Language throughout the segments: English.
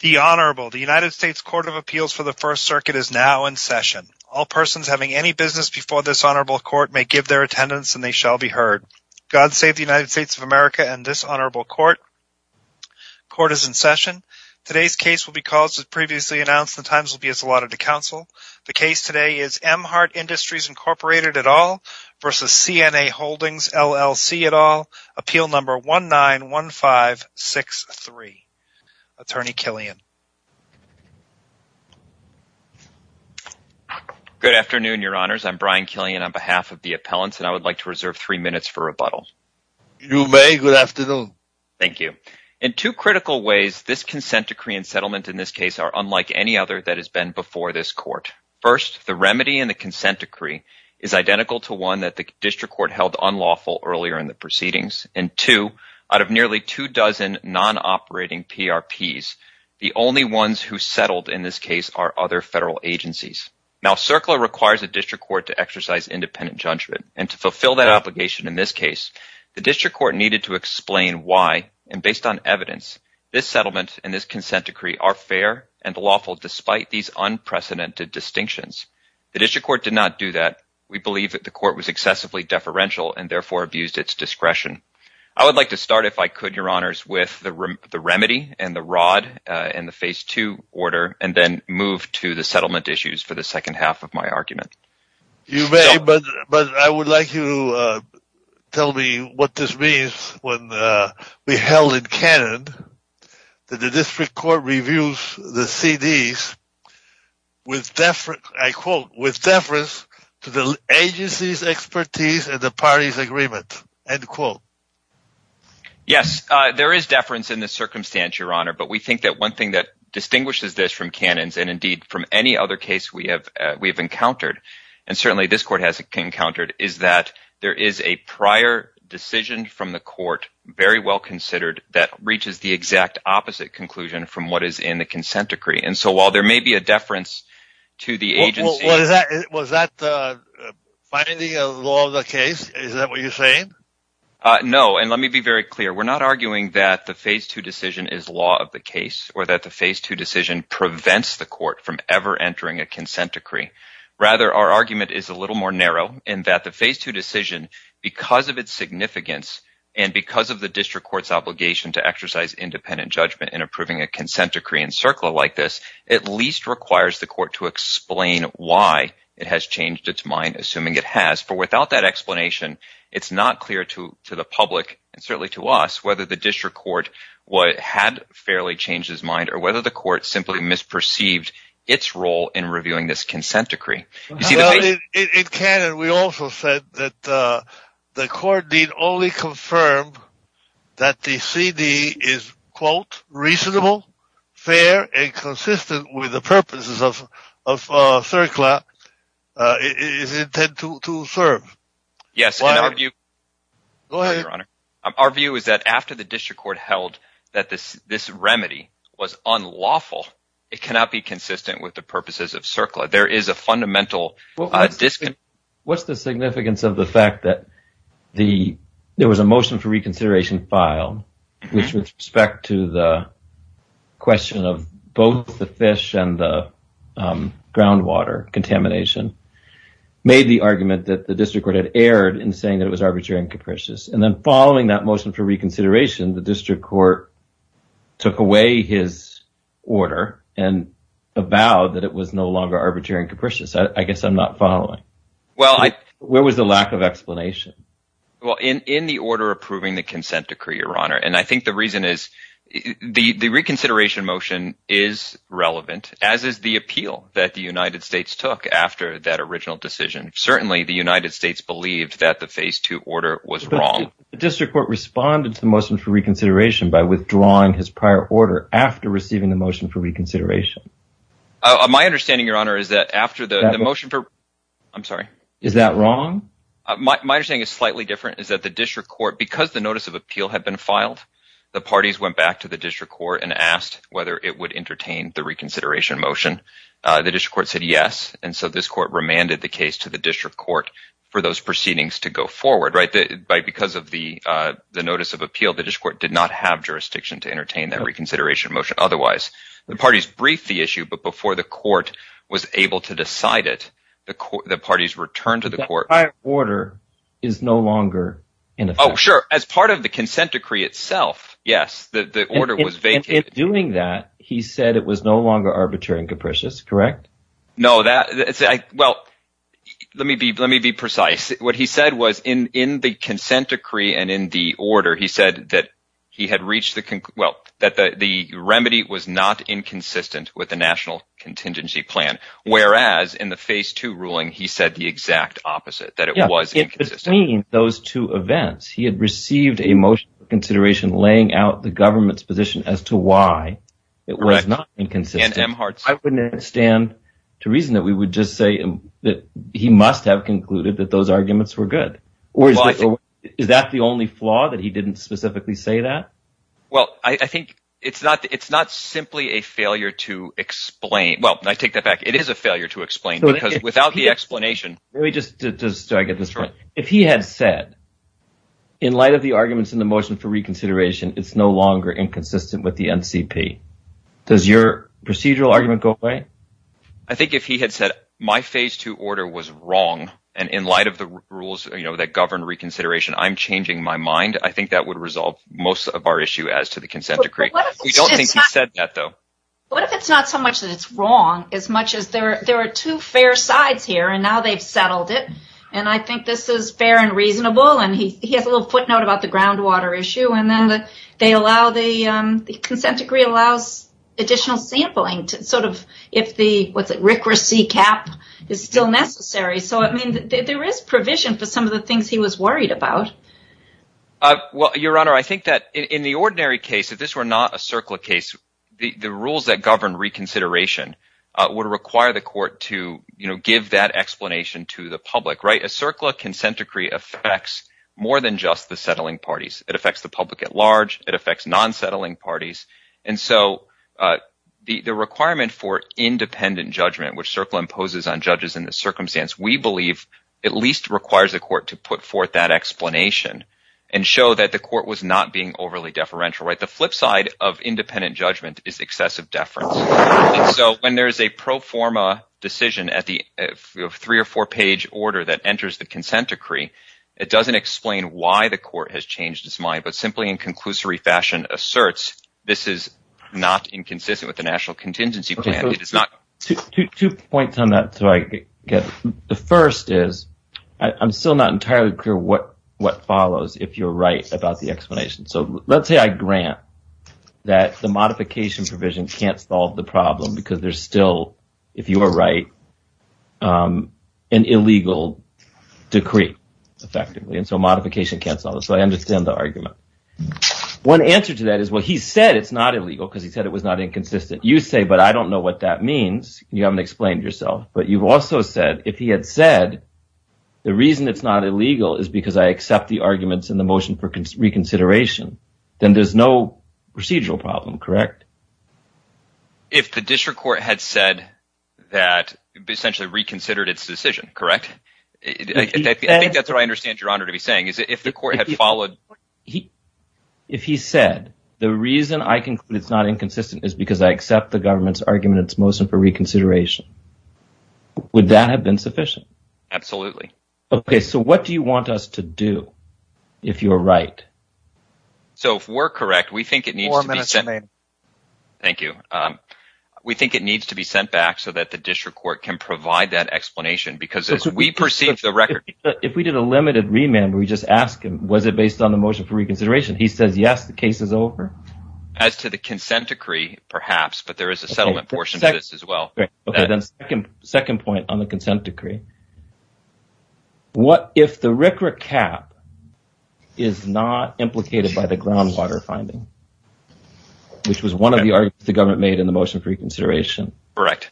The Honorable, the United States Court of Appeals for the First Circuit is now in session. All persons having any business before this Honorable Court may give their attendance and they shall be heard. God save the United States of America and this Honorable Court. Court is in session. Today's case will be called as previously announced and the times will be as allotted to counsel. The case today is Emhart Industries, Inc. v. CNA Holdings, LLC. At all, Appeal Number 191563. Attorney Killian. Good afternoon, Your Honors. I'm Brian Killian on behalf of the appellants and I would like to reserve three minutes for rebuttal. You may. Good afternoon. Thank you. In two critical ways, this consent decree and settlement in this case are unlike any other that has been before this Court. First, the remedy in the consent decree is identical to one that the district court held unlawful earlier in the proceedings and two, out of nearly two dozen non-operating PRPs, the only ones who settled in this case are other federal agencies. Now CERCLA requires a district court to exercise independent judgment and to fulfill that obligation in this case, the district court needed to explain why and based on evidence, this settlement and this consent decree are fair and lawful despite these unprecedented distinctions. The district court did not do that. We believe that the court was excessively deferential and therefore abused its discretion. I would like to start, if I could, Your Honors, with the remedy and the rod in the phase two order and then move to the settlement issues for the second half of my argument. You may, but I would like you to tell me what this means when we held it canon that the agency's expertise and the party's agreement, end quote. Yes, there is deference in this circumstance, Your Honor, but we think that one thing that distinguishes this from canons and indeed from any other case we have encountered and certainly this Court has encountered is that there is a prior decision from the Court very well considered that reaches the exact opposite conclusion from what is in the consent decree and so while there may be a deference to the agency. Was that finding a law of the case? Is that what you're saying? No, and let me be very clear. We're not arguing that the phase two decision is law of the case or that the phase two decision prevents the Court from ever entering a consent decree. Rather, our argument is a little more narrow in that the phase two decision, because of its significance and because of the district court's obligation to exercise independent judgment in approving a consent decree in CERCLA like this, at least requires the Court to explain why it has changed its mind, assuming it has, for without that explanation, it's not clear to the public and certainly to us whether the district court had fairly changed its mind or whether the Court simply misperceived its role in reviewing this consent decree. In canon, we also said that the Court did only confirm that the CD is, quote, reasonable, fair, and consistent with the purposes of CERCLA, is intended to serve. Yes, and our view is that after the district court held that this remedy was unlawful, it cannot be consistent with the purposes of CERCLA. There is a fundamental disconnect. What's the significance of the fact that there was a motion for reconsideration filed with respect to the question of both the fish and the groundwater contamination, made the argument that the district court had erred in saying that it was arbitrary and capricious, and then following that motion for reconsideration, the district court took away his order and avowed that it was no longer arbitrary and capricious. I guess I'm not following. Where was the lack of explanation? Well, in the order approving the consent decree, Your Honor, and I think the reason is, the reconsideration motion is relevant, as is the appeal that the United States took after that original decision. Certainly, the United States believed that the phase two order was wrong. The district court responded to the motion for reconsideration by withdrawing his prior order after receiving the motion for reconsideration. My understanding, Your Honor, is that after the motion for... I'm sorry. Is that wrong? My understanding is slightly different, is that the district court, because the notice of appeal had been filed, the parties went back to the district court and asked whether it would entertain the reconsideration motion. The district court said yes, and so this court remanded the case to the district court for those proceedings to go forward, right? Because of the notice of appeal, the district court did not have jurisdiction to entertain that reconsideration motion otherwise. The parties briefed the issue, but before the court was able to decide it, the parties returned to the court. The prior order is no longer in effect. Oh, sure. As part of the consent decree itself, yes, the order was vacated. In doing that, he said it was no longer arbitrary and capricious, correct? No, that... Well, let me be precise. What he said was in the consent decree and in the order, he said that he had reached the... Well, that the remedy was not inconsistent with the national contingency plan, whereas in the phase two ruling, he said the exact opposite, that it was inconsistent. Yeah, in between those two events, he had received a motion of consideration laying out the government's position as to why it was not inconsistent. I wouldn't stand to reason that we would just say that he must have concluded that those arguments were good, or is that the only flaw, that he didn't specifically say that? Well, I think it's not simply a failure to explain... Well, I take that back. It is a failure to explain, because without the explanation... Let me just... Do I get this right? If he had said, in light of the arguments in the motion for reconsideration, it's no longer inconsistent with the NCP, does your procedural argument go away? I think if he had said, my phase two order was wrong, and in light of the rules that govern reconsideration, I'm changing my mind, I think that would resolve most of our issue as to the consent decree. We don't think he said that, though. What if it's not so much that it's wrong, as much as there are two fair sides here, and now they've settled it, and I think this is fair and reasonable, and he has a little footnote about the groundwater issue, and then the consent decree allows additional sampling if the, what's it, RCRA C-CAP is still necessary, so there is provision for some of the things he was worried about. Your Honor, I think that in the ordinary case, if this were not a CERCLA case, the rules that govern reconsideration would require the court to give that explanation to the public, right? A CERCLA consent decree affects more than just the settling parties. It affects the public at large, it affects non-settling parties, and so the requirement for independent judgment, which CERCLA imposes on judges in this circumstance, we believe at least requires the court to put forth that explanation and show that the court was not being overly deferential, right? The flip side of independent judgment is excessive deference, and so when there is a pro forma decision at the three or four-page order that enters the consent decree, it doesn't explain why the court has changed its mind, but simply in conclusory fashion asserts this is not inconsistent with the national contingency plan. Two points on that, so I get it. The first is, I'm still not entirely clear what follows if you're right about the explanation. So let's say I grant that the modification provision can't solve the problem because there's still, if you are right, an illegal decree, effectively, and so modification can't solve it, so I understand the argument. One answer to that is, well, he said it's not illegal because he said it was not inconsistent. You say, but I don't know what that means, you haven't explained yourself, but you've also said if he had said the reason it's not illegal is because I accept the arguments in the motion for reconsideration, then there's no procedural problem, correct? If the district court had said that, essentially reconsidered its decision, correct? I think that's what I understand your honor to be saying, is if the court had followed... If he said, the reason I conclude it's not inconsistent is because I accept the government's argument in its motion for reconsideration, would that have been sufficient? Absolutely. Okay, so what do you want us to do if you're right? So if we're correct, we think it needs to be sent back so that the district court can provide that explanation, because as we perceive the record... If we did a limited remand, we just ask him, was it based on the motion for reconsideration? He says, yes, the case is over. As to the consent decree, perhaps, but there is a settlement portion of this as well. Okay, then second point on the consent decree. What if the RCRA cap is not implicated by the groundwater finding, which was one of the arguments the government made in the motion for reconsideration? Correct.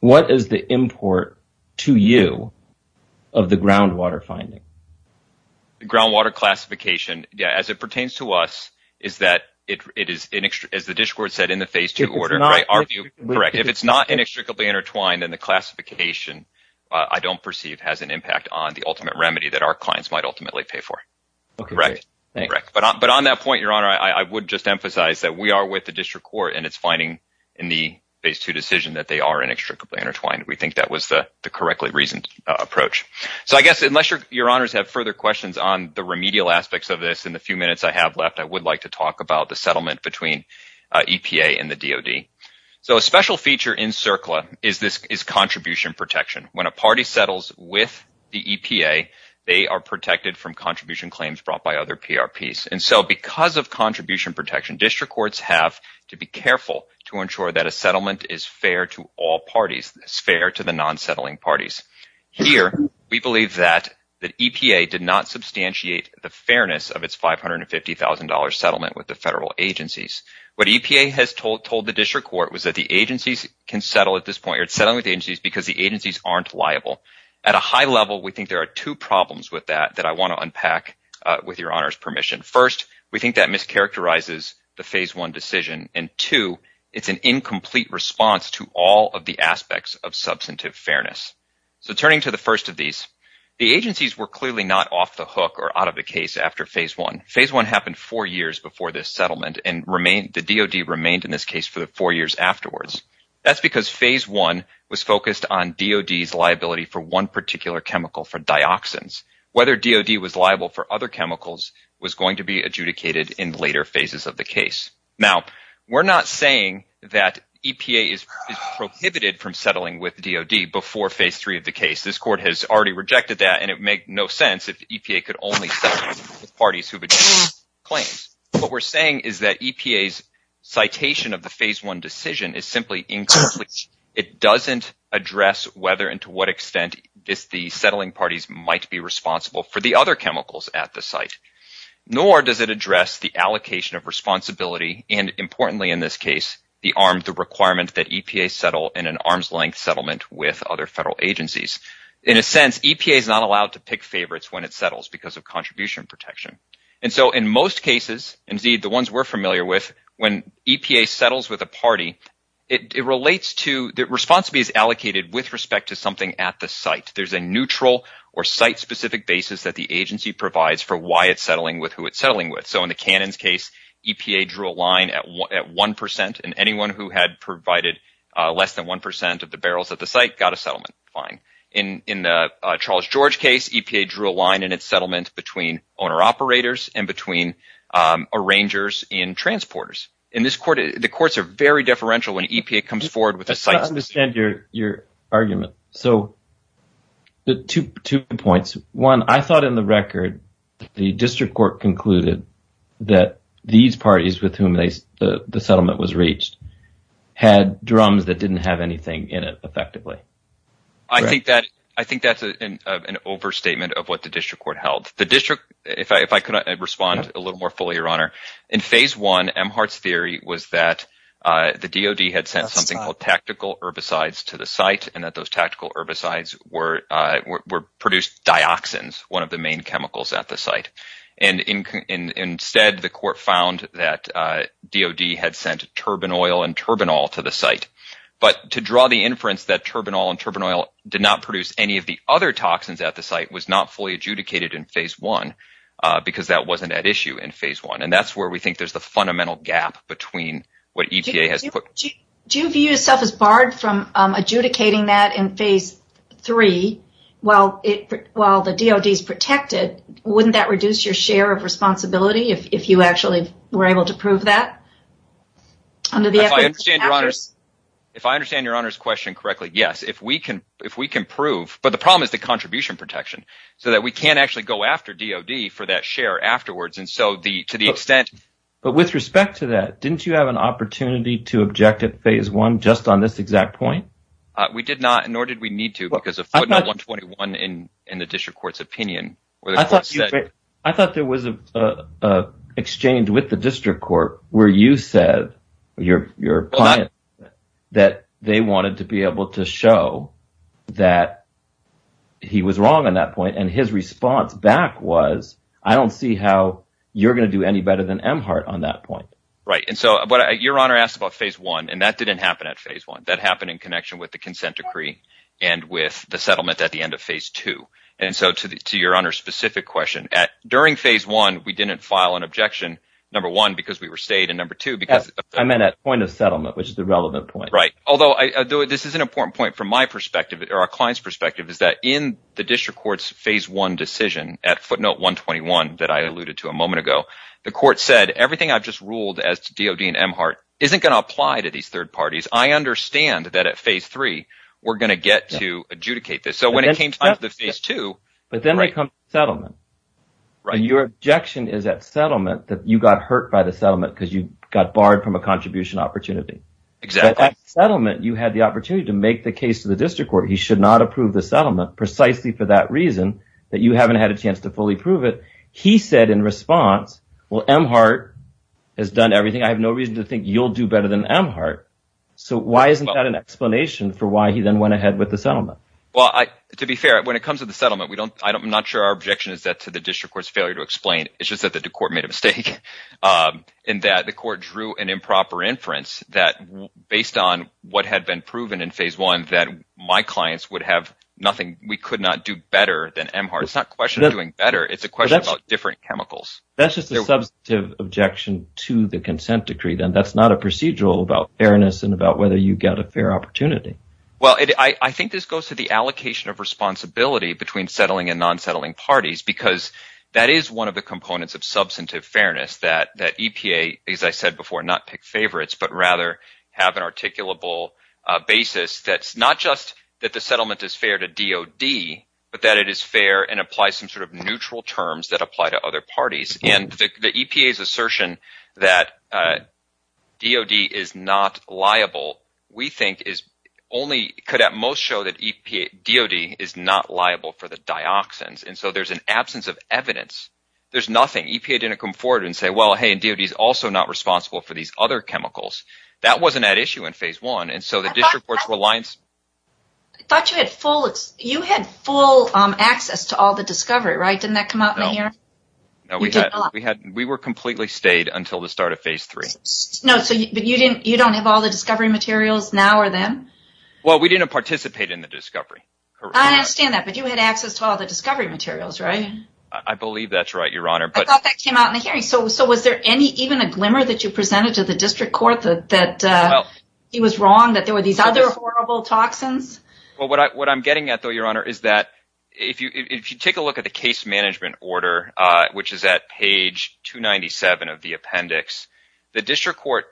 What is the import to you of the groundwater finding? The groundwater classification, as it pertains to us, is that it is, as the district court said in the phase two order, if it's not inextricably intertwined in the classification, I don't perceive has an impact on the ultimate remedy that our clients might ultimately pay for. But on that point, your honor, I would just emphasize that we are with the district court and it's finding in the phase two decision that they are inextricably intertwined. We think that was the correctly reasoned approach. So I guess, unless your honors have further questions on the remedial aspects of this in the few minutes I have left, I would like to talk about the settlement between EPA and the DOD. So a special feature in CERCLA is contribution protection. When a party settles with the EPA, they are protected from contribution claims brought by other PRPs. And so because of contribution protection, district courts have to be careful to ensure that a settlement is fair to all parties, is fair to the non-settling parties. Here, we believe that the EPA did not substantiate the fairness of its $550,000 settlement with the federal agencies. What EPA has told the district court was that the agencies can settle at this point, or settle with the agencies because the agencies aren't liable. At a high level, we think there are two problems with that that I want to unpack with your honors' permission. First, we think that mischaracterizes the Phase I decision, and two, it's an incomplete response to all of the aspects of substantive fairness. So turning to the first of these, the agencies were clearly not off the hook or out of the case after Phase I. Phase I happened four years before this settlement, and the DOD remained in this case for four years afterwards. That's because Phase I was focused on DOD's liability for one particular chemical, for dioxins. Whether DOD was liable for other chemicals was going to be adjudicated in later phases of the case. Now, we're not saying that EPA is prohibited from settling with DOD before Phase III of the case. This court has already rejected that, and it would make no sense if the EPA could only settle with parties who have adjoined claims. What we're saying is that EPA's citation of the Phase I decision is simply incomplete. It doesn't address whether and to what extent the settling parties might be responsible for the other chemicals at the site, nor does it address the allocation of responsibility and, importantly in this case, the arm, the requirement that EPA settle in an arm's length settlement with other federal agencies. In a sense, EPA is not allowed to pick favorites when it settles because of contribution protection. And so in most cases, indeed the ones we're familiar with, when EPA settles with a party, the responsibility is allocated with respect to something at the site. There's a neutral or site-specific basis that the agency provides for why it's settling with who it's settling with. So in the Cannons case, EPA drew a line at 1%, and anyone who had provided less than 1% of the barrels at the site got a settlement fine. In the Charles George case, EPA drew a line in its settlement between owner-operators and between arrangers and transporters. And the courts are very deferential when EPA comes forward with a site-specific... I don't understand your argument. So two points. One, I thought in the record the district court concluded that these parties with whom the settlement was reached had drums that didn't have anything in it effectively. I think that's an overstatement of what the district court held. The district, if I could respond a little more fully, Your Honor. In phase one, Emhart's theory was that the DoD had sent something called tactical herbicides to the site and that those tactical herbicides produced dioxins, one of the main chemicals at the site. And instead, the court found that DoD had sent turbinol and turbinol to the site. But to draw the inference that turbinol and turbinol did not produce any of the other toxins at the site was not fully adjudicated in phase one because that wasn't at issue in phase one. And that's where we think there's the fundamental gap between what EPA has put... Do you view yourself as barred from adjudicating that in phase three while the DoD is protected? Wouldn't that reduce your share of responsibility if you actually were able to prove that? Under the... If I understand Your Honor's question correctly, yes, if we can prove... But the problem is the contribution protection so that we can't actually go after DoD for that share afterwards. To the extent... But with respect to that, didn't you have an opportunity to object at phase one just on this exact point? We did not, nor did we need to because of footnote 121 in the district court's opinion. I thought there was an exchange with the district court where you said, your client, that they wanted to be able to show that he was wrong on that point. And his response back was, I don't see how you're going to do any better than Emhart on that point. Right. And so what Your Honor asked about phase one, and that didn't happen at phase one. That happened in connection with the consent decree and with the settlement at the end of phase two. And so to Your Honor's specific question, during phase one, we didn't file an objection, number one, because we were stayed, and number two, because... I meant at point of settlement, which is the relevant point. Right. Although this is an important point from my perspective or our client's perspective is that in the district court's phase one decision at footnote 121 that I alluded to a moment ago, the court said, everything I've just ruled as to DOD and Emhart isn't going to apply to these third parties. I understand that at phase three, we're going to get to adjudicate this. So when it came time to the phase two... But then they come to settlement. Your objection is at settlement that you got hurt by the settlement because you got barred from a contribution opportunity. Exactly. At settlement, you had the opportunity to make the case to the district court. He should not approve the settlement precisely for that reason, that you haven't had a chance to fully prove it. He said in response, well, Emhart has done everything. I have no reason to think you'll do better than Emhart. So why isn't that an explanation for why he then went ahead with the settlement? Well, to be fair, when it comes to the settlement, I'm not sure our objection is that to the district court's failure to explain. It's just that the court made a mistake in that the court drew an improper inference based on what had been proven in phase one that my clients would have nothing. We could not do better than Emhart. It's not a question of doing better. It's a question about different chemicals. That's just a substantive objection to the consent decree then. That's not a procedural about fairness and about whether you got a fair opportunity. Well, I think this goes to the allocation of responsibility between settling and non-settling rather have an articulable basis that's not just that the settlement is fair to DOD, but that it is fair and applies some sort of neutral terms that apply to other parties. The EPA's assertion that DOD is not liable, we think, could at most show that DOD is not liable for the dioxins and so there's an absence of evidence. There's nothing. EPA didn't come forward and say, well, hey, DOD is also not responsible for these other chemicals. That wasn't at issue in phase one and so the district court's reliance... You had full access to all the discovery, right? Didn't that come out in the hearing? We were completely stayed until the start of phase three. No, but you don't have all the discovery materials now or then? Well, we didn't participate in the discovery. I understand that, but you had access to all the discovery materials, right? I thought that came out in the hearing. Was there even a glimmer that you presented to the district court that he was wrong, that there were these other horrible toxins? What I'm getting at, though, Your Honor, is that if you take a look at the case management order, which is at page 297 of the appendix, the district court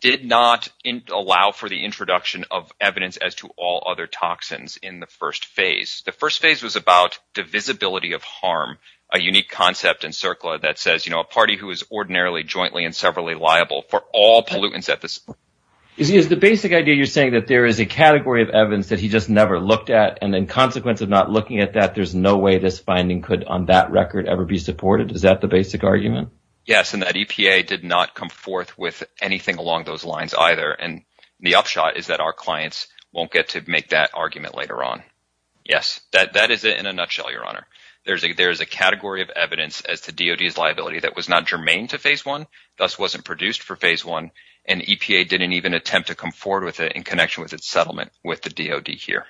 did not allow for the introduction of evidence as to all other toxins in the first phase. The first phase was about divisibility of harm, a unique concept in CERCLA that says a party who is ordinarily, jointly, and severally liable for all pollutants at this point. Is the basic idea you're saying that there is a category of evidence that he just never looked at and then consequence of not looking at that, there's no way this finding could on that record ever be supported? Is that the basic argument? Yes, and that EPA did not come forth with anything along those lines either and the upshot is that our clients won't get to make that argument later on. Yes, that is it in a nutshell, Your Honor. There is a category of evidence as to DOD's liability that was not germane to phase one, thus wasn't produced for phase one, and EPA didn't even attempt to come forward with it in connection with its settlement with the DOD here.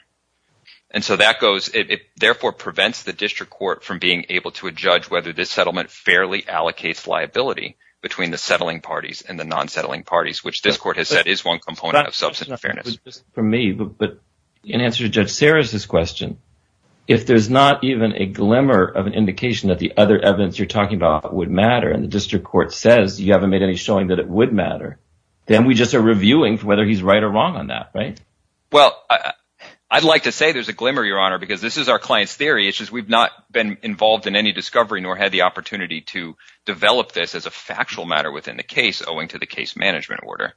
And so that goes, it therefore prevents the district court from being able to judge whether this settlement fairly allocates liability between the settling parties and the non-settling parties, which this court has said is one component of substantive fairness. But in answer to Judge Sarris' question, if there's not even a glimmer of an indication that the other evidence you're talking about would matter and the district court says you haven't made any showing that it would matter, then we just are reviewing whether he's right or wrong on that, right? Well, I'd like to say there's a glimmer, Your Honor, because this is our client's theory. It's just we've not been involved in any discovery nor had the opportunity to develop this as a factual matter within the case owing to the case management order.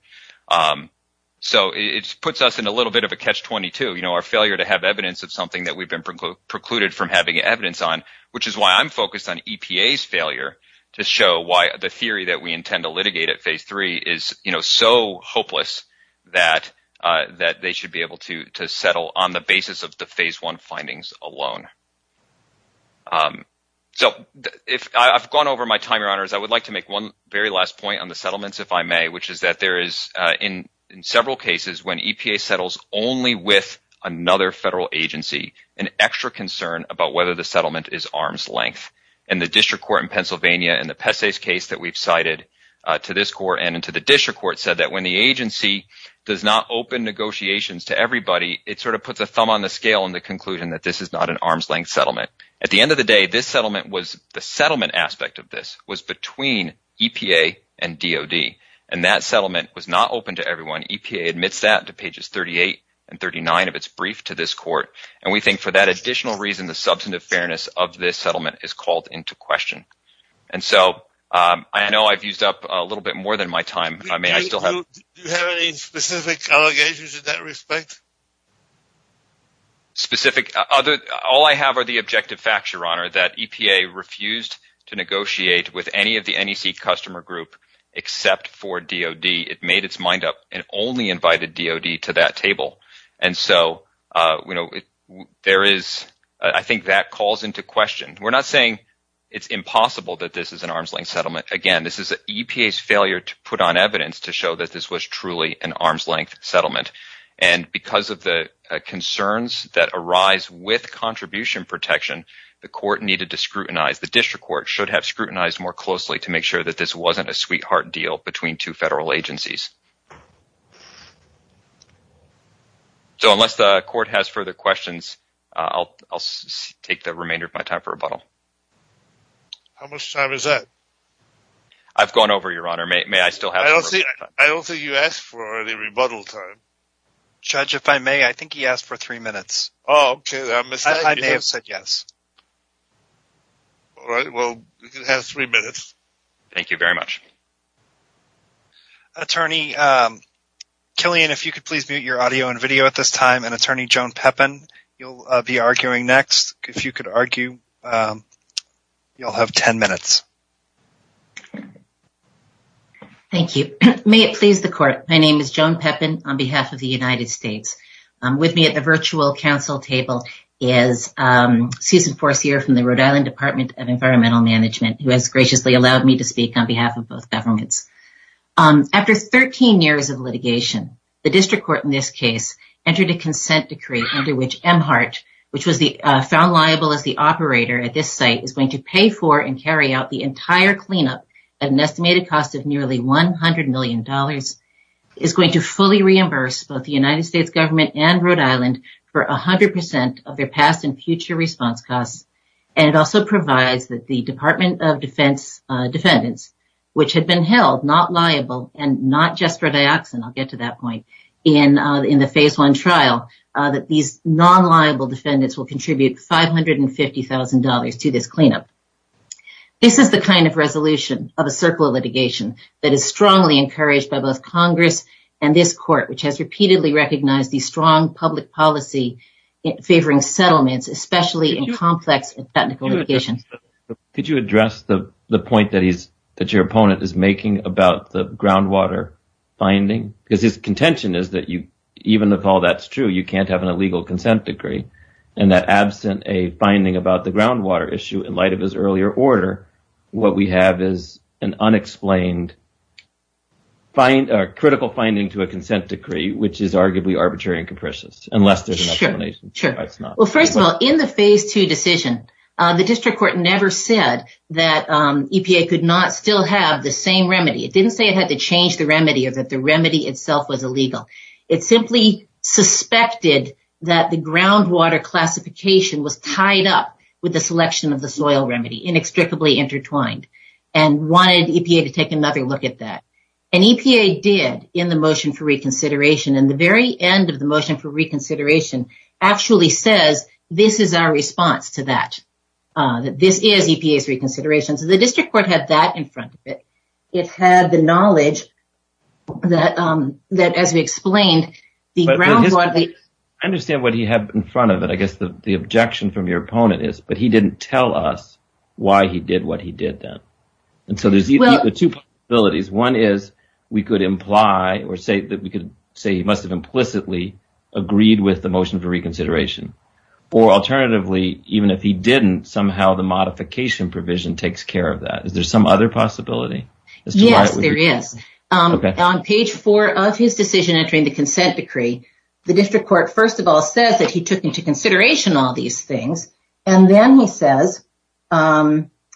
So it puts us in a little bit of a catch-22, you know, our failure to have evidence of something that we've been precluded from having evidence on, which is why I'm focused on EPA's failure to show why the theory that we intend to litigate at phase three is so hopeless that they should be able to settle on the basis of the phase one findings alone. So I've gone over my time, Your Honors. I would like to make one very last point on the settlements, if I may, which is that there is in several cases when EPA settles only with another federal agency, an extra concern about whether the settlement is arm's length. And the district court in Pennsylvania in the Pesce's case that we've cited to this court and to the district court said that when the agency does not open negotiations to everybody, it sort of puts a thumb on the scale in the conclusion that this is not an arm's length settlement. At the end of the day, this settlement was the settlement aspect of this was between EPA and DOD. And that settlement was not open to everyone. EPA admits that to pages 38 and 39 of its brief to this court. And we think for that additional reason, the substantive fairness of this settlement is called into question. And so I know I've used up a little bit more than my time. I mean, I still have any specific allegations in that respect. Specific other. All I have are the objective facts, Your Honor, that EPA refused to negotiate with any of the NEC customer group except for DOD. It made its mind up and only invited DOD to that table. And so, you know, there is I think that calls into question. We're not saying it's impossible that this is an arm's length settlement. Again, this is EPA's failure to put on evidence to show that this was truly an arm's length settlement. And because of the concerns that arise with contribution protection, the court needed to scrutinize. The district court should have scrutinized more closely to make sure that this wasn't a sweetheart deal between two federal agencies. So unless the court has further questions, I'll take the remainder of my time for rebuttal. How much time is that? I've gone over, Your Honor. May I still have? I don't think you asked for any rebuttal time. Judge, if I may, I think he asked for three minutes. Oh, OK. I may have said yes. All right. Well, you can have three minutes. Thank you very much. Attorney Killian, if you could please mute your audio and video at this time. And Attorney Joan Pepin, you'll be arguing next. If you could argue, you'll have 10 minutes. Thank you. May it please the court. My name is Joan Pepin on behalf of the United States. I'm with me at the virtual council table is Susan Forcier from the Rhode Island Department of Environmental Management, who has graciously allowed me to speak on behalf of both governments. After 13 years of litigation, the district court in this case entered a consent decree under which Emhart, which was found liable as the operator at this site, is going to pay for and carry out the entire cleanup at an estimated cost of nearly $100 million, is going to fully reimburse both the United States government and Rhode Island for 100% of their past and future response costs. And it also provides that the Department of Defense defendants, which had been held not liable and not just for dioxin, I'll get to that point, in the phase one trial, that these non-liable defendants will contribute $550,000 to this cleanup. This is the kind of resolution of a circle of litigation that is strongly encouraged by both Congress and this court, which has repeatedly recognized the strong public policy favoring settlements, especially in complex technical litigation. Could you address the point that your opponent is making about the groundwater finding? Because his contention is that even if all that's true, you can't have an illegal consent decree, and that absent a finding about the groundwater issue in light of his earlier order, what we have is an unexplained critical finding to a consent decree, which is arguably arbitrary and capricious, unless there's an explanation. Sure. Well, first of all, in the phase two decision, the district court never said that EPA could not still have the same remedy. It didn't say it had to change the remedy or that the remedy itself was illegal. It simply suspected that the groundwater classification was tied up with the selection of the soil remedy, inextricably intertwined, and wanted EPA to take another look at that. And EPA did in the motion for reconsideration, and the very end of the motion for reconsideration actually says, this is our response to that, that this is EPA's reconsideration. So the district court had that in front of it. It had the knowledge that, as we explained, the groundwater- I understand what he had in front of it. I guess the objection from your opponent is, but he didn't tell us why he did what he did then. And so there's two possibilities. One is we could imply or say that we could say he must have implicitly agreed with the motion for reconsideration. Or alternatively, even if he didn't, somehow the modification provision takes care of that. Is there some other possibility? Yes, there is. On page four of his decision entering the consent decree, the district court, first of all, says that he took into consideration all these things. And then he says,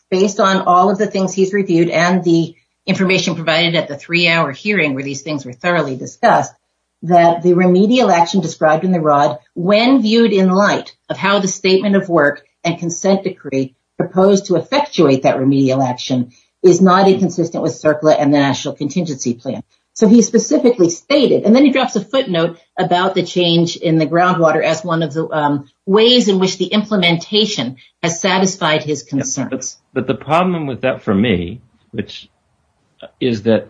based on all of the things he's reviewed and the information provided at the three-hour hearing where these things were thoroughly discussed, that the remedial action described in the ROD, when viewed in light of how the statement of work and consent decree proposed to effectuate that remedial action, is not inconsistent with CERCLA and the National Contingency Plan. So he specifically stated, and then he drops a footnote about the change in the groundwater as one of the ways in which the implementation has satisfied his concerns. But the problem with that for me, which is that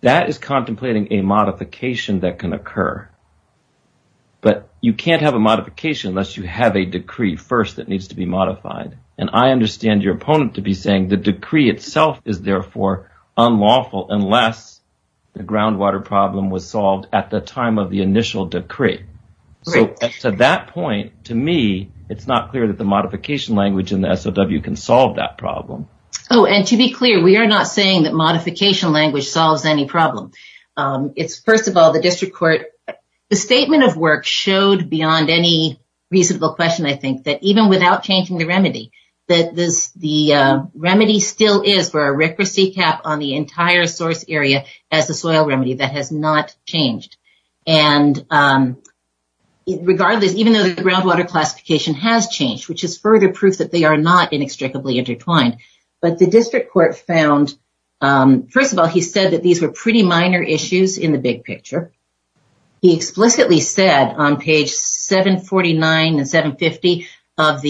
that is contemplating a modification that can occur. But you can't have a modification unless you have a decree first that needs to be modified. And I understand your opponent to be saying the decree itself is therefore unlawful unless the groundwater problem was solved at the time of the initial decree. So to that point, to me, it's not clear that the modification language in the SOW can solve that problem. Oh, and to be clear, we are not saying that modification language solves any problem. It's, first of all, the district court, the statement of work showed beyond any reasonable question, I think, that even without changing the remedy, that the remedy still is for a rickety cap on the entire source area as a soil remedy that has not changed. And regardless, even though the groundwater classification has changed, which is further proof that they are not inextricably intertwined, but the district court found, first of all, he said that these were pretty minor issues in the big picture. He explicitly said on page 749 and 750 of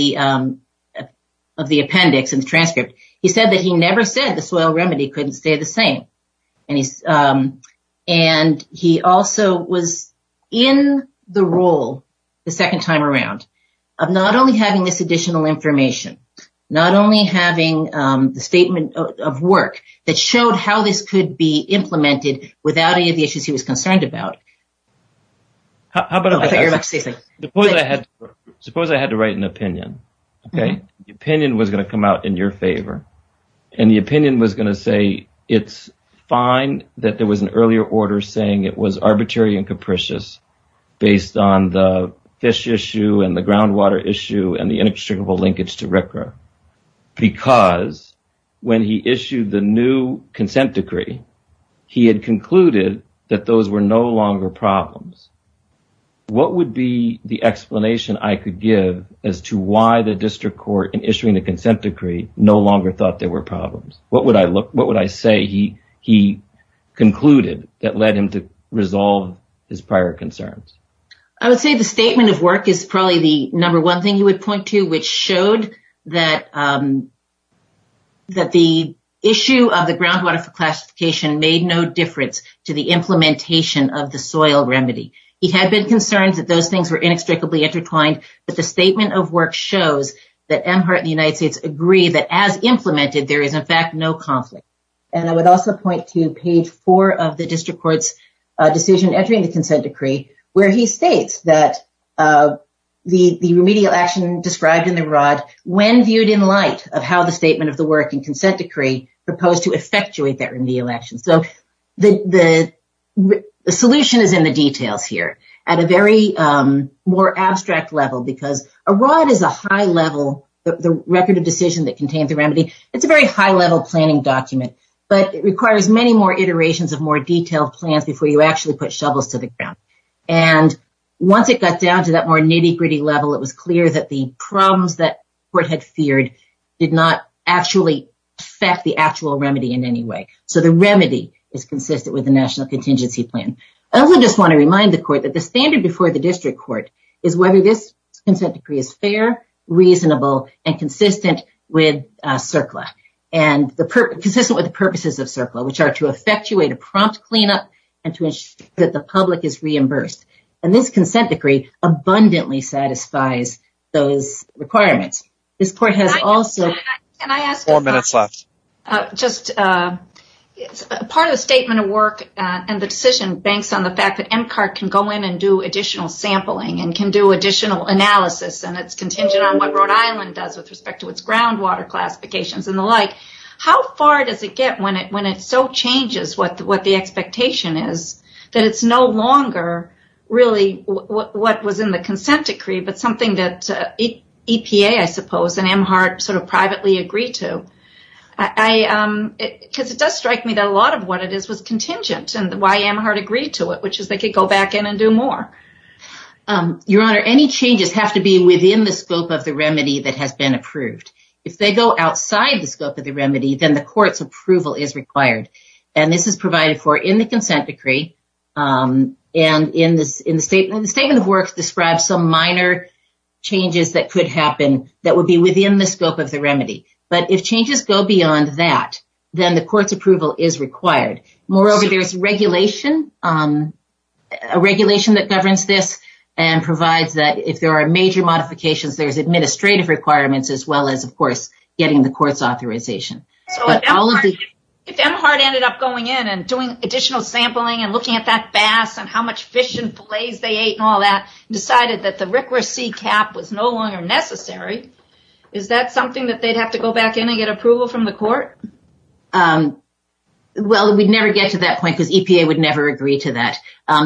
the appendix in the transcript, he said that he never said the soil remedy couldn't stay the same. And he also was in the role the second time around of not only having this additional implementation, but also having it be implemented without any of the issues he was concerned about. Suppose I had to write an opinion. The opinion was going to come out in your favor and the opinion was going to say it's fine that there was an earlier order saying it was arbitrary and capricious based on the fish issue and the groundwater issue and the inextricable linkage to RCRA. Because when he issued the new consent decree, he had concluded that those were no longer problems. What would be the explanation I could give as to why the district court in issuing the consent decree no longer thought there were problems? What would I say he concluded that led him to resolve his prior concerns? I would say the statement of work is probably the number one thing he would point to, which showed that the issue of the groundwater classification made no difference to the implementation of the soil remedy. He had been concerned that those things were inextricably intertwined, but the statement of work shows that M. Hart and the United States agree that as implemented, there is in fact no conflict. And I would also point to page four of the district court's decision entering the consent decree, where he states that the remedial action described in the R.O.D. when viewed in light of how the statement of the work and consent decree proposed to effectuate that remedial action. So the solution is in the details here at a very more abstract level, because a R.O.D. is a high level, the record of decision that contains the remedy. It's a very high level planning document, but it requires many more iterations of more And once it got down to that more nitty gritty level, it was clear that the problems that the court had feared did not actually affect the actual remedy in any way. So the remedy is consistent with the national contingency plan. I also just want to remind the court that the standard before the district court is whether this consent decree is fair, reasonable and consistent with CERCLA and consistent with the purposes of CERCLA, which are to effectuate a prompt cleanup and to ensure that the public is reimbursed. And this consent decree abundantly satisfies those requirements. This court has also... Can I ask a question? Four minutes left. Just part of the statement of work and the decision banks on the fact that MCART can go in and do additional sampling and can do additional analysis and it's contingent on what Rhode Island does with respect to its groundwater classifications and the like. How far does it get when it so changes what the expectation is that it's no longer really what was in the consent decree, but something that EPA, I suppose, and MHART sort of privately agreed to? Because it does strike me that a lot of what it is was contingent and why MHART agreed to it, which is they could go back in and do more. Your Honor, any changes have to be within the scope of the remedy that has been approved. If they go outside the scope of the remedy, then the court's approval is required. And this is provided for in the consent decree and in the statement of work describes some minor changes that could happen that would be within the scope of the remedy. But if changes go beyond that, then the court's approval is required. Moreover, there's regulation that governs this and provides that if there are major modifications, there's administrative requirements as well as, of course, getting the court's authorization. If MHART ended up going in and doing additional sampling and looking at that bass and how much fish and fillets they ate and all that and decided that the RCRA C cap was no longer necessary, is that something that they'd have to go back in and get approval from the court? Well, we'd never get to that point because EPA would never agree to that.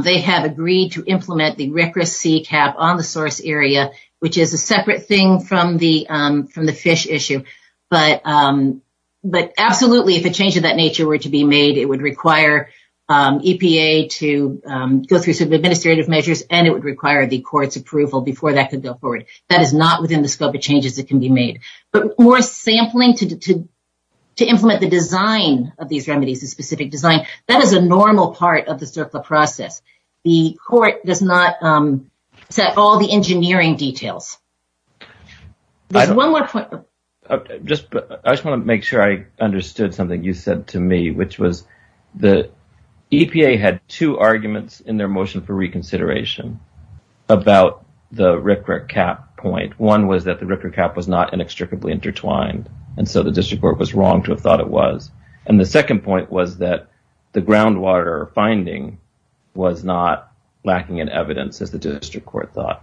They have agreed to implement the RCRA C cap on the source area, which is a separate thing from the fish issue. But absolutely, if a change of that nature were to be made, it would require EPA to go through some administrative measures and it would require the court's approval before that could go forward. That is not within the scope of changes that can be made. But more sampling to implement the design of these remedies, the specific design, that is a normal part of the circular process. The court does not set all the engineering details. One more point. I just want to make sure I understood something you said to me, which was the EPA had two arguments in their motion for reconsideration about the RCRA cap point. One was that the RCRA cap was not inextricably intertwined. And so the district court was wrong to have thought it was. And the second point was that the groundwater finding was not lacking in evidence, as the district court thought.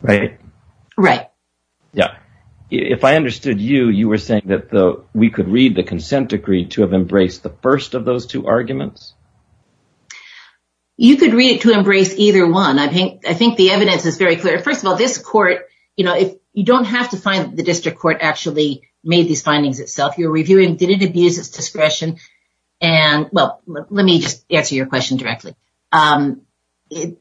Right? Right. Yeah. If I understood you, you were saying that we could read the consent decree to have embraced the first of those two arguments? You could read it to embrace either one. I think the evidence is very clear. First of all, this court, you don't have to find the district court actually made these findings itself. You're reviewing, did it abuse its discretion? And well, let me just answer your question directly. The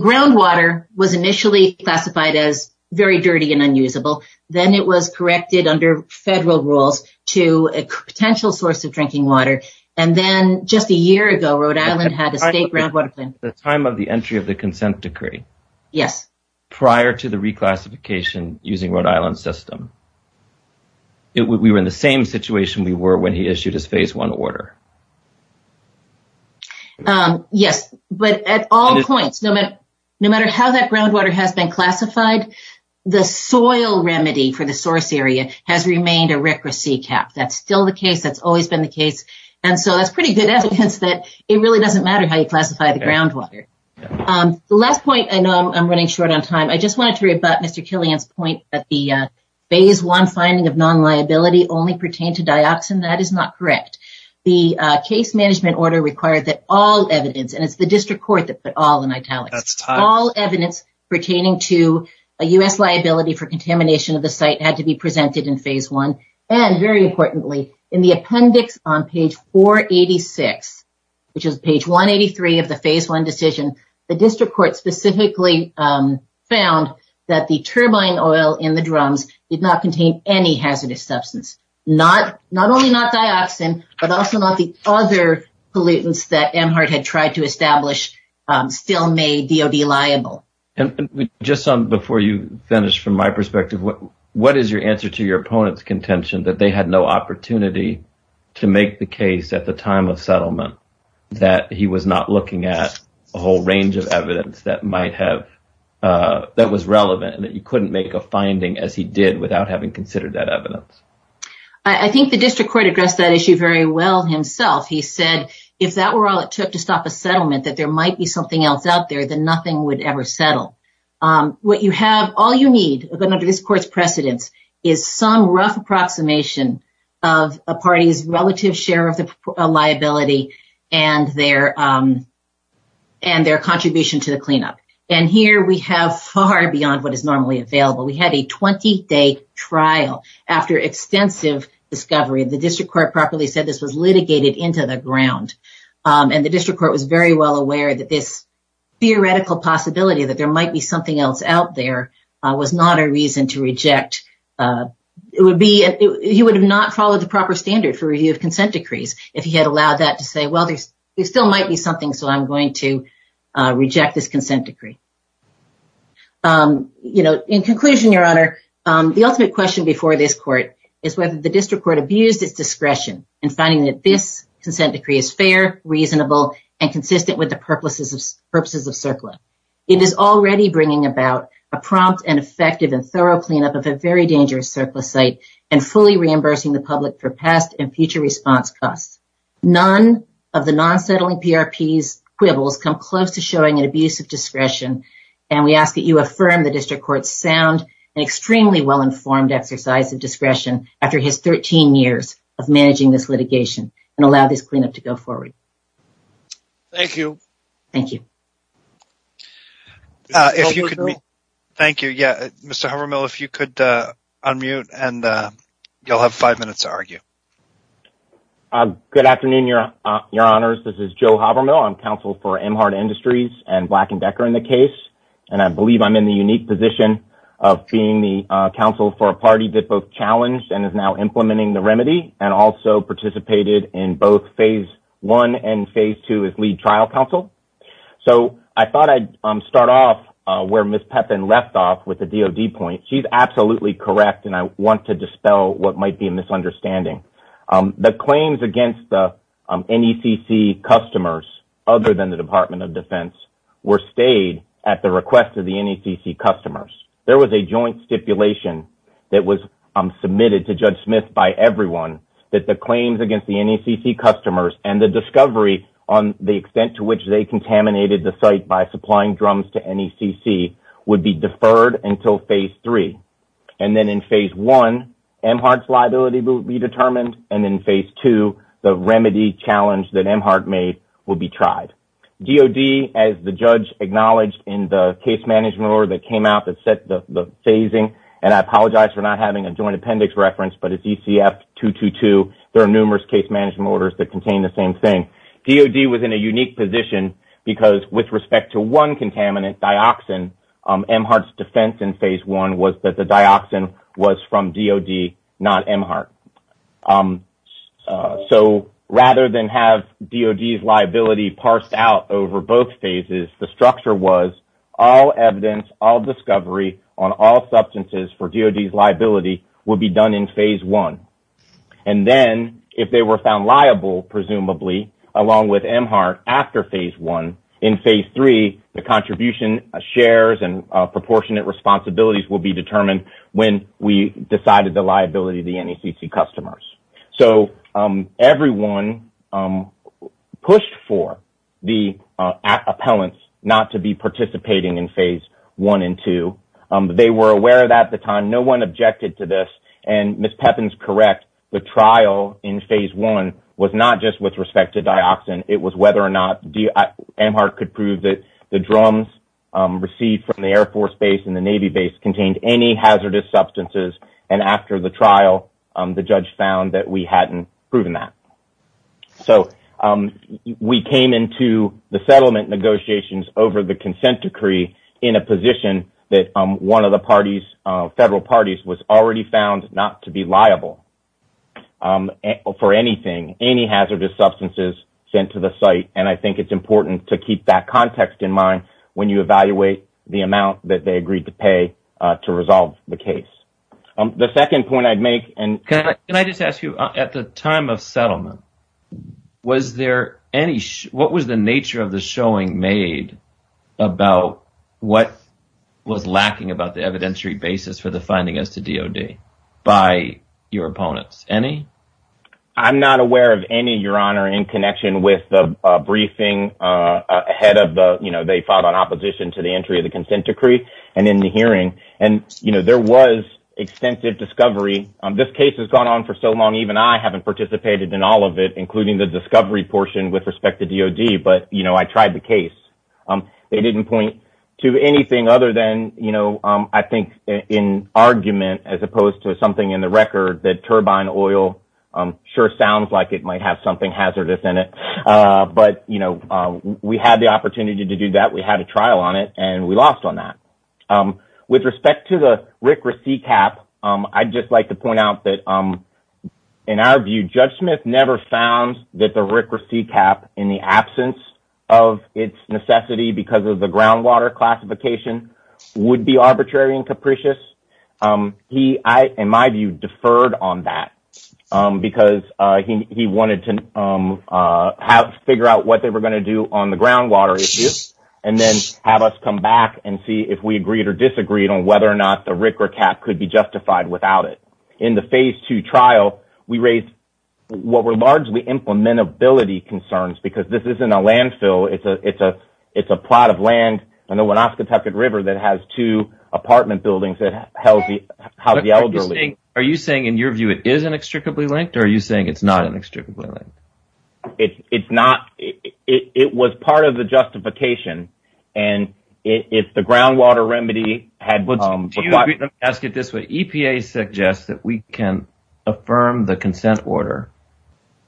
groundwater was initially classified as very dirty and unusable. Then it was corrected under federal rules to a potential source of drinking water. And then just a year ago, Rhode Island had a state groundwater plan. The time of the entry of the consent decree. Yes. Prior to the reclassification using Rhode Island's system. We were in the same situation we were when he issued his phase one order. Yes, but at all points, no matter how that groundwater has been classified, the soil remedy for the source area has remained a RCRA C-CAP. That's still the case. That's always been the case. And so that's pretty good evidence that it really doesn't matter how you classify the groundwater. The last point, I know I'm running short on time. I just wanted to rebut Mr. Killian's point that the phase one finding of non-liability only pertain to dioxin. That is not correct. The case management order required that all evidence, and it's the district court that put all in italics, all evidence pertaining to a U.S. liability for contamination of the site had to be presented in phase one. And very importantly, in the appendix on page 486, which is page 183 of the phase one decision, the district court specifically found that the turbine oil in the drums did not contain any hazardous substance. Not only not dioxin, but also not the other pollutants that Amhart had tried to establish still made DOD liable. And just before you finish, from my perspective, what is your answer to your opponent's contention that they had no opportunity to make the case at the time of settlement that he was not looking at a whole range of evidence that might have, that was relevant and that you couldn't make a finding as he did without having considered that evidence? I think the district court addressed that issue very well himself. He said if that were all it took to stop a settlement, that there might be something else out there that nothing would ever settle. What you have, all you need, according to this court's precedence, is some rough approximation of a party's relative share of the liability and their contribution to the cleanup. And here we have far beyond what is normally available. We had a 20-day trial after extensive discovery. The district court properly said this was litigated into the ground. And the district court was very well aware that this theoretical possibility that there might be something else out there was not a reason to reject. It would be, he would have not followed the proper standard for review of consent decrees if he had allowed that to say, well, there still might be something, so I'm going to reject this consent decree. You know, in conclusion, Your Honor, the ultimate question before this court is whether the district court abused its discretion in finding that this consent decree is fair, reasonable, and consistent with the purposes of CERCLA. It is already bringing about a prompt and effective and thorough cleanup of a very dangerous CERCLA site and fully reimbursing the public for past and future response costs. None of the non-settling PRP's quibbles come close to showing an abuse of discretion, and we ask that you affirm the district court's sound and extremely well-informed exercise of discretion after his 13 years of managing this litigation and allow this cleanup to go forward. Thank you. Thank you. If you could, thank you. Yeah, Mr. Habermill, if you could unmute and you'll have five minutes to argue. Good afternoon, Your Honors. This is Joe Habermill. I'm counsel for Emhart Industries and Black & Decker in the case, and I believe I'm in the unique position of being the counsel for a party that both challenged and is now implementing the remedy and also participated in both phase one and phase two as lead trial counsel. So I thought I'd start off where Ms. Pepin left off with the DOD point. She's absolutely correct, and I want to dispel what might be a misunderstanding. The claims against the NECC customers other than the Department of Defense were stayed at the request of the NECC customers. There was a joint stipulation that was submitted to Judge Smith by everyone that the claims against the NECC customers and the discovery on the extent to which they contaminated the site by supplying drums to NECC would be deferred until phase three, and then in phase one, Emhart's liability will be determined, and then in phase two, the remedy challenge that Emhart made will be tried. DOD, as the judge acknowledged in the case management order that came out that set the phasing, and I apologize for not having a joint appendix reference, but it's ECF-222. There are numerous case management orders that contain the same thing. DOD was in a unique position because with respect to one contaminant, dioxin, Emhart's defense in phase one was that the dioxin was from DOD, not Emhart. So rather than have DOD's liability parsed out over both phases, the structure was all evidence, all discovery on all substances for DOD's liability would be done in phase one, and then if they were found liable, presumably, along with Emhart after phase one, in phase three, the contribution shares and proportionate responsibilities will be determined when we decided the liability of the NECC customers. So everyone pushed for the appellants not to be participating in phase one and two. They were aware of that at the time. No one objected to this, and Ms. Pepin's correct. The trial in phase one was not just with respect to dioxin. It was whether or not Emhart could prove that the drums received from the Air Force Base and the Navy Base contained any hazardous substances, and after the trial, the judge found that we hadn't proven that. So we came into the settlement negotiations over the consent decree in a position that one of the federal parties was already found not to be liable for anything, any hazardous substances sent to the site, and I think it's important to keep that context in mind when you evaluate the amount that they agreed to pay to resolve the case. The second point I'd make... Can I just ask you, at the time of settlement, was there any... What was the nature of the showing made about what was lacking about the evidentiary basis for the finding as to DOD by your opponents? I'm not aware of any, Your Honor, in connection with the briefing ahead of the... They fought on opposition to the entry of the consent decree and in the hearing, and there was extensive discovery. This case has gone on for so long, even I haven't participated in all of it, including the discovery portion with respect to DOD, but I tried the case. They didn't point to anything other than, I think, an argument as opposed to something in the record that turbine oil sure sounds like it might have something hazardous in it, but we had the opportunity to do that. We had a trial on it, and we lost on that. With respect to the RCRA C-CAP, I'd just like to point out that, in our view, Judge Smith never found that the RCRA C-CAP, in the absence of its necessity because of the groundwater classification, would be arbitrary and capricious. He, in my view, deferred on that because he wanted to figure out what they were going to do on the groundwater issue, and then have us come back and see if we agreed or disagreed on whether or not the RCRA C-CAP could be justified without it. In the phase two trial, we raised what were largely implementability concerns because this isn't a landfill, it's a plot of land on the Winnebago River that has two apartment buildings that house the elderly. Are you saying, in your view, it is inextricably linked, or are you saying it's not inextricably linked? It's not. It was part of the justification, and if the groundwater remedy had... Let me ask it this way. EPA suggests that we can affirm the consent order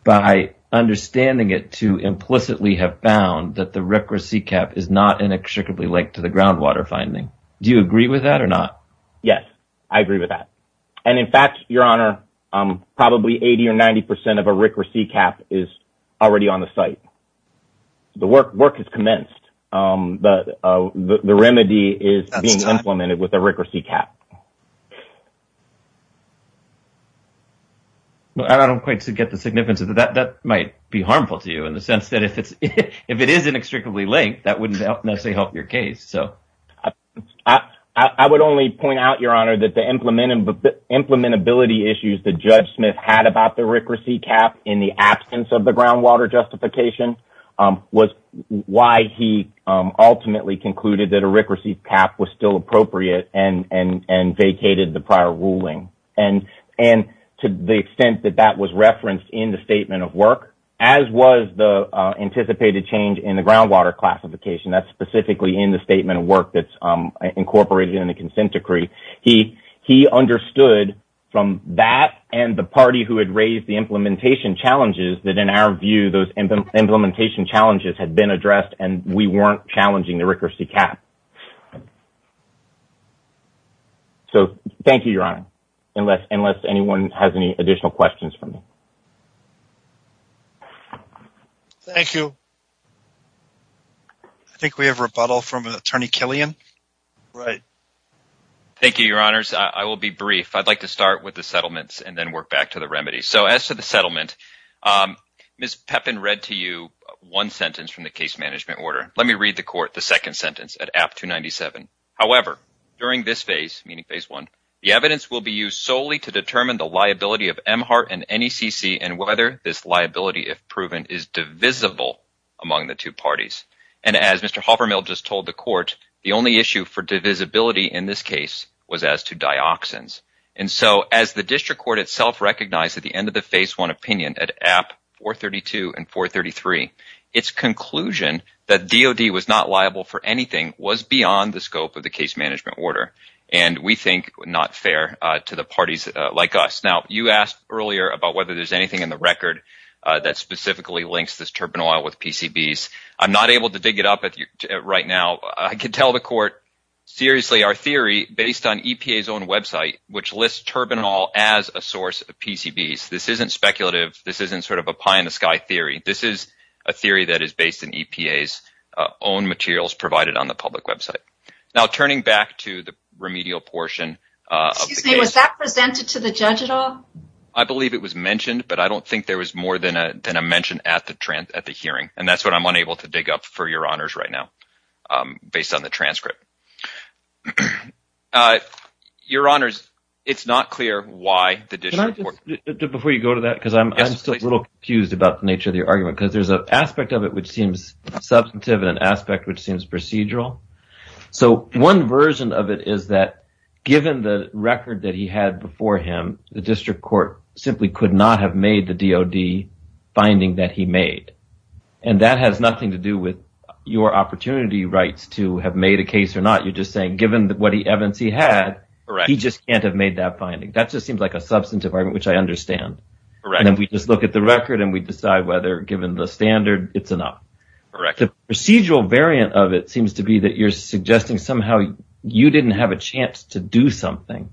by understanding it to implicitly have found that the RCRA C-CAP is not inextricably linked to the groundwater finding. Do you agree with that or not? Yes, I agree with that. In fact, Your Honor, probably 80% or 90% of a RCRA C-CAP is already on the site. Work has commenced. The remedy is being implemented with a RCRA C-CAP. I don't quite get the significance of that. That might be harmful to you in the sense that if it is inextricably linked, that wouldn't necessarily help your case. I would only point out, Your Honor, that the implementability issues that Judge Smith had about the RCRA C-CAP in the absence of the groundwater justification was why he ultimately concluded that a RCRA C-CAP was still appropriate and vacated the prior ruling. To the extent that that was referenced in the statement of work, as was the anticipated change in the groundwater classification, that's specifically in the statement of work that's incorporated in the consent decree, he understood from that and the party who had raised the implementation challenges that, in our view, those implementation challenges had been addressed and we weren't challenging the RCRA C-CAP. Thank you, Your Honor, unless anyone has any additional questions for me. Thank you. I think we have rebuttal from Attorney Killian. Right. Thank you, Your Honors. I will be brief. I'd like to start with the settlements and then work back to the remedies. So as to the settlement, Ms. Pepin read to you one sentence from the case management order. Let me read the court the second sentence at AP 297. However, during this phase, meaning phase one, the evidence will be used solely to determine the liability of MHART and NECC and whether this liability, if proven, is divisible among the two parties. And as Mr. Halpernell just told the court, the only issue for divisibility in this case was as to dioxins. And so as the district court itself recognized at the end of the phase one opinion at AP 432 and 433, its conclusion that DOD was not liable for anything was beyond the scope of the case management order. And we think not fair to the parties like us. Now, you asked earlier about whether there's anything in the record that specifically links this turbinol with PCBs. I'm not able to dig it up right now. I can tell the court seriously our theory based on EPA's own website, which lists turbinol as a source of PCBs. This isn't speculative. This isn't sort of a pie in the sky theory. This is a theory that is based in EPA's own materials provided on the public website. Now, turning back to the remedial portion of the case. Excuse me, was that presented to the judge at all? I believe it was mentioned, but I don't think there was more than a mention at the hearing. And that's what I'm unable to dig up for your honors right now based on the transcript. Your honors, it's not clear why the district court. Before you go to that, because I'm still a little confused about the nature of your argument, because there's an aspect of it which seems substantive and an aspect which seems procedural. So one version of it is that given the record that he had before him, the district court simply could not have made the DOD finding that he made. And that has nothing to do with your opportunity rights to have made a case or not. You're just saying given what evidence he had, he just can't have made that finding. That just seems like a substantive argument, which I understand. And then we just look at the record and we decide whether given the standard, it's enough. The procedural variant of it seems to be that you're suggesting somehow you didn't have a chance to do something.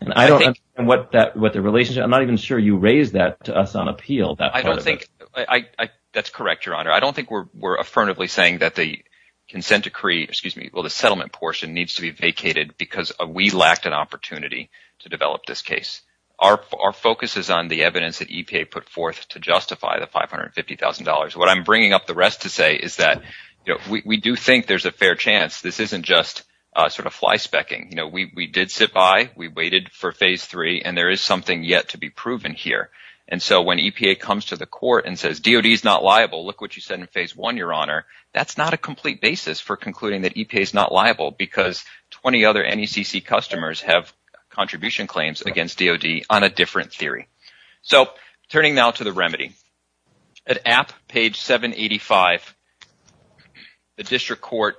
And I don't understand what the relationship. I'm not even sure you raised that to us on appeal. That's correct, your honor. I don't think we're affirmatively saying that the consent decree, excuse me, well, the settlement portion needs to be vacated because we lacked an opportunity to develop this case. Our focus is on the evidence that EPA put forth to justify the $550,000. What I'm bringing up the rest to say is that we do think there's a fair chance this isn't just sort of fly specking. We did sit by, we waited for phase three, and there is something yet to be proven here. And so when EPA comes to the court and says DOD is not liable, look what you said in phase one, your honor. That's not a complete basis for concluding that EPA is not liable because 20 other NECC customers have contribution claims against DOD on a different theory. So turning now to the remedy, at AP page 785, the district court,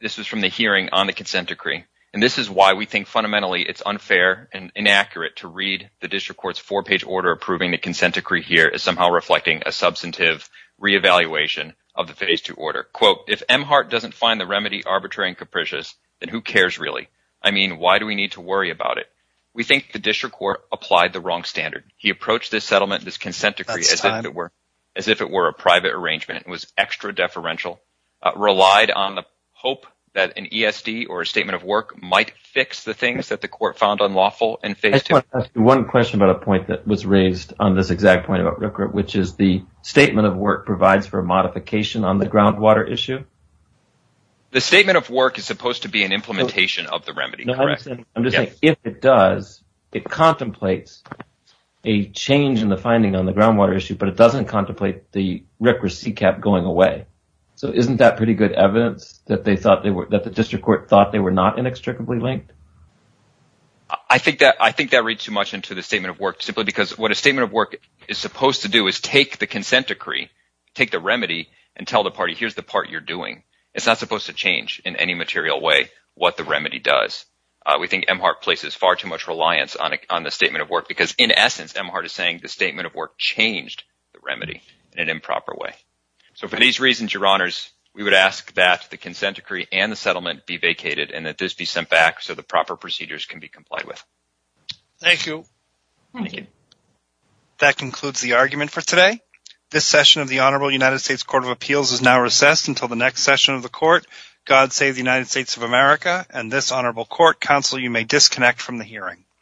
this is from the hearing on the consent decree. And this is why we think fundamentally it's unfair and inaccurate to read the district court's four page order approving the consent decree here is somehow reflecting a substantive reevaluation of the phase two order. Quote, if Emhart doesn't find the remedy arbitrary and capricious, then who cares really? I mean, why do we need to worry about it? We think the district court applied the wrong standard. He approached this settlement, this consent decree as if it were a private arrangement. It was extra deferential, relied on the hope that an ESD or a statement of work might fix the things that the court found unlawful in phase two. One question about a point that was raised on this exact point about RCRA, which is the statement of work provides for a modification on the groundwater issue. The statement of work is supposed to be an implementation of the remedy, correct? I'm just saying if it does, it contemplates a change in the finding on the groundwater issue, but it doesn't contemplate the RCRA C cap going away. So isn't that pretty good evidence that they thought they were that the district court thought they were not inextricably linked? I think that I think that reads too much into the statement of work simply because what a statement of work is supposed to do is take the consent decree, take the remedy and tell the party, here's the part you're doing. It's not supposed to change in any material way what the remedy does. We think Emhart places far too much reliance on the statement of work because in essence, Emhart is saying the statement of work changed the remedy in an improper way. So for these reasons, your honors, we would ask that the consent decree and the settlement be vacated and that this be sent back so the proper procedures can be complied with. Thank you. That concludes the argument for today. This session of the Honorable United States Court of Appeals is now recessed until the next session of the court. God save the United States of America and this Honorable Court. Counsel, you may disconnect from the hearing.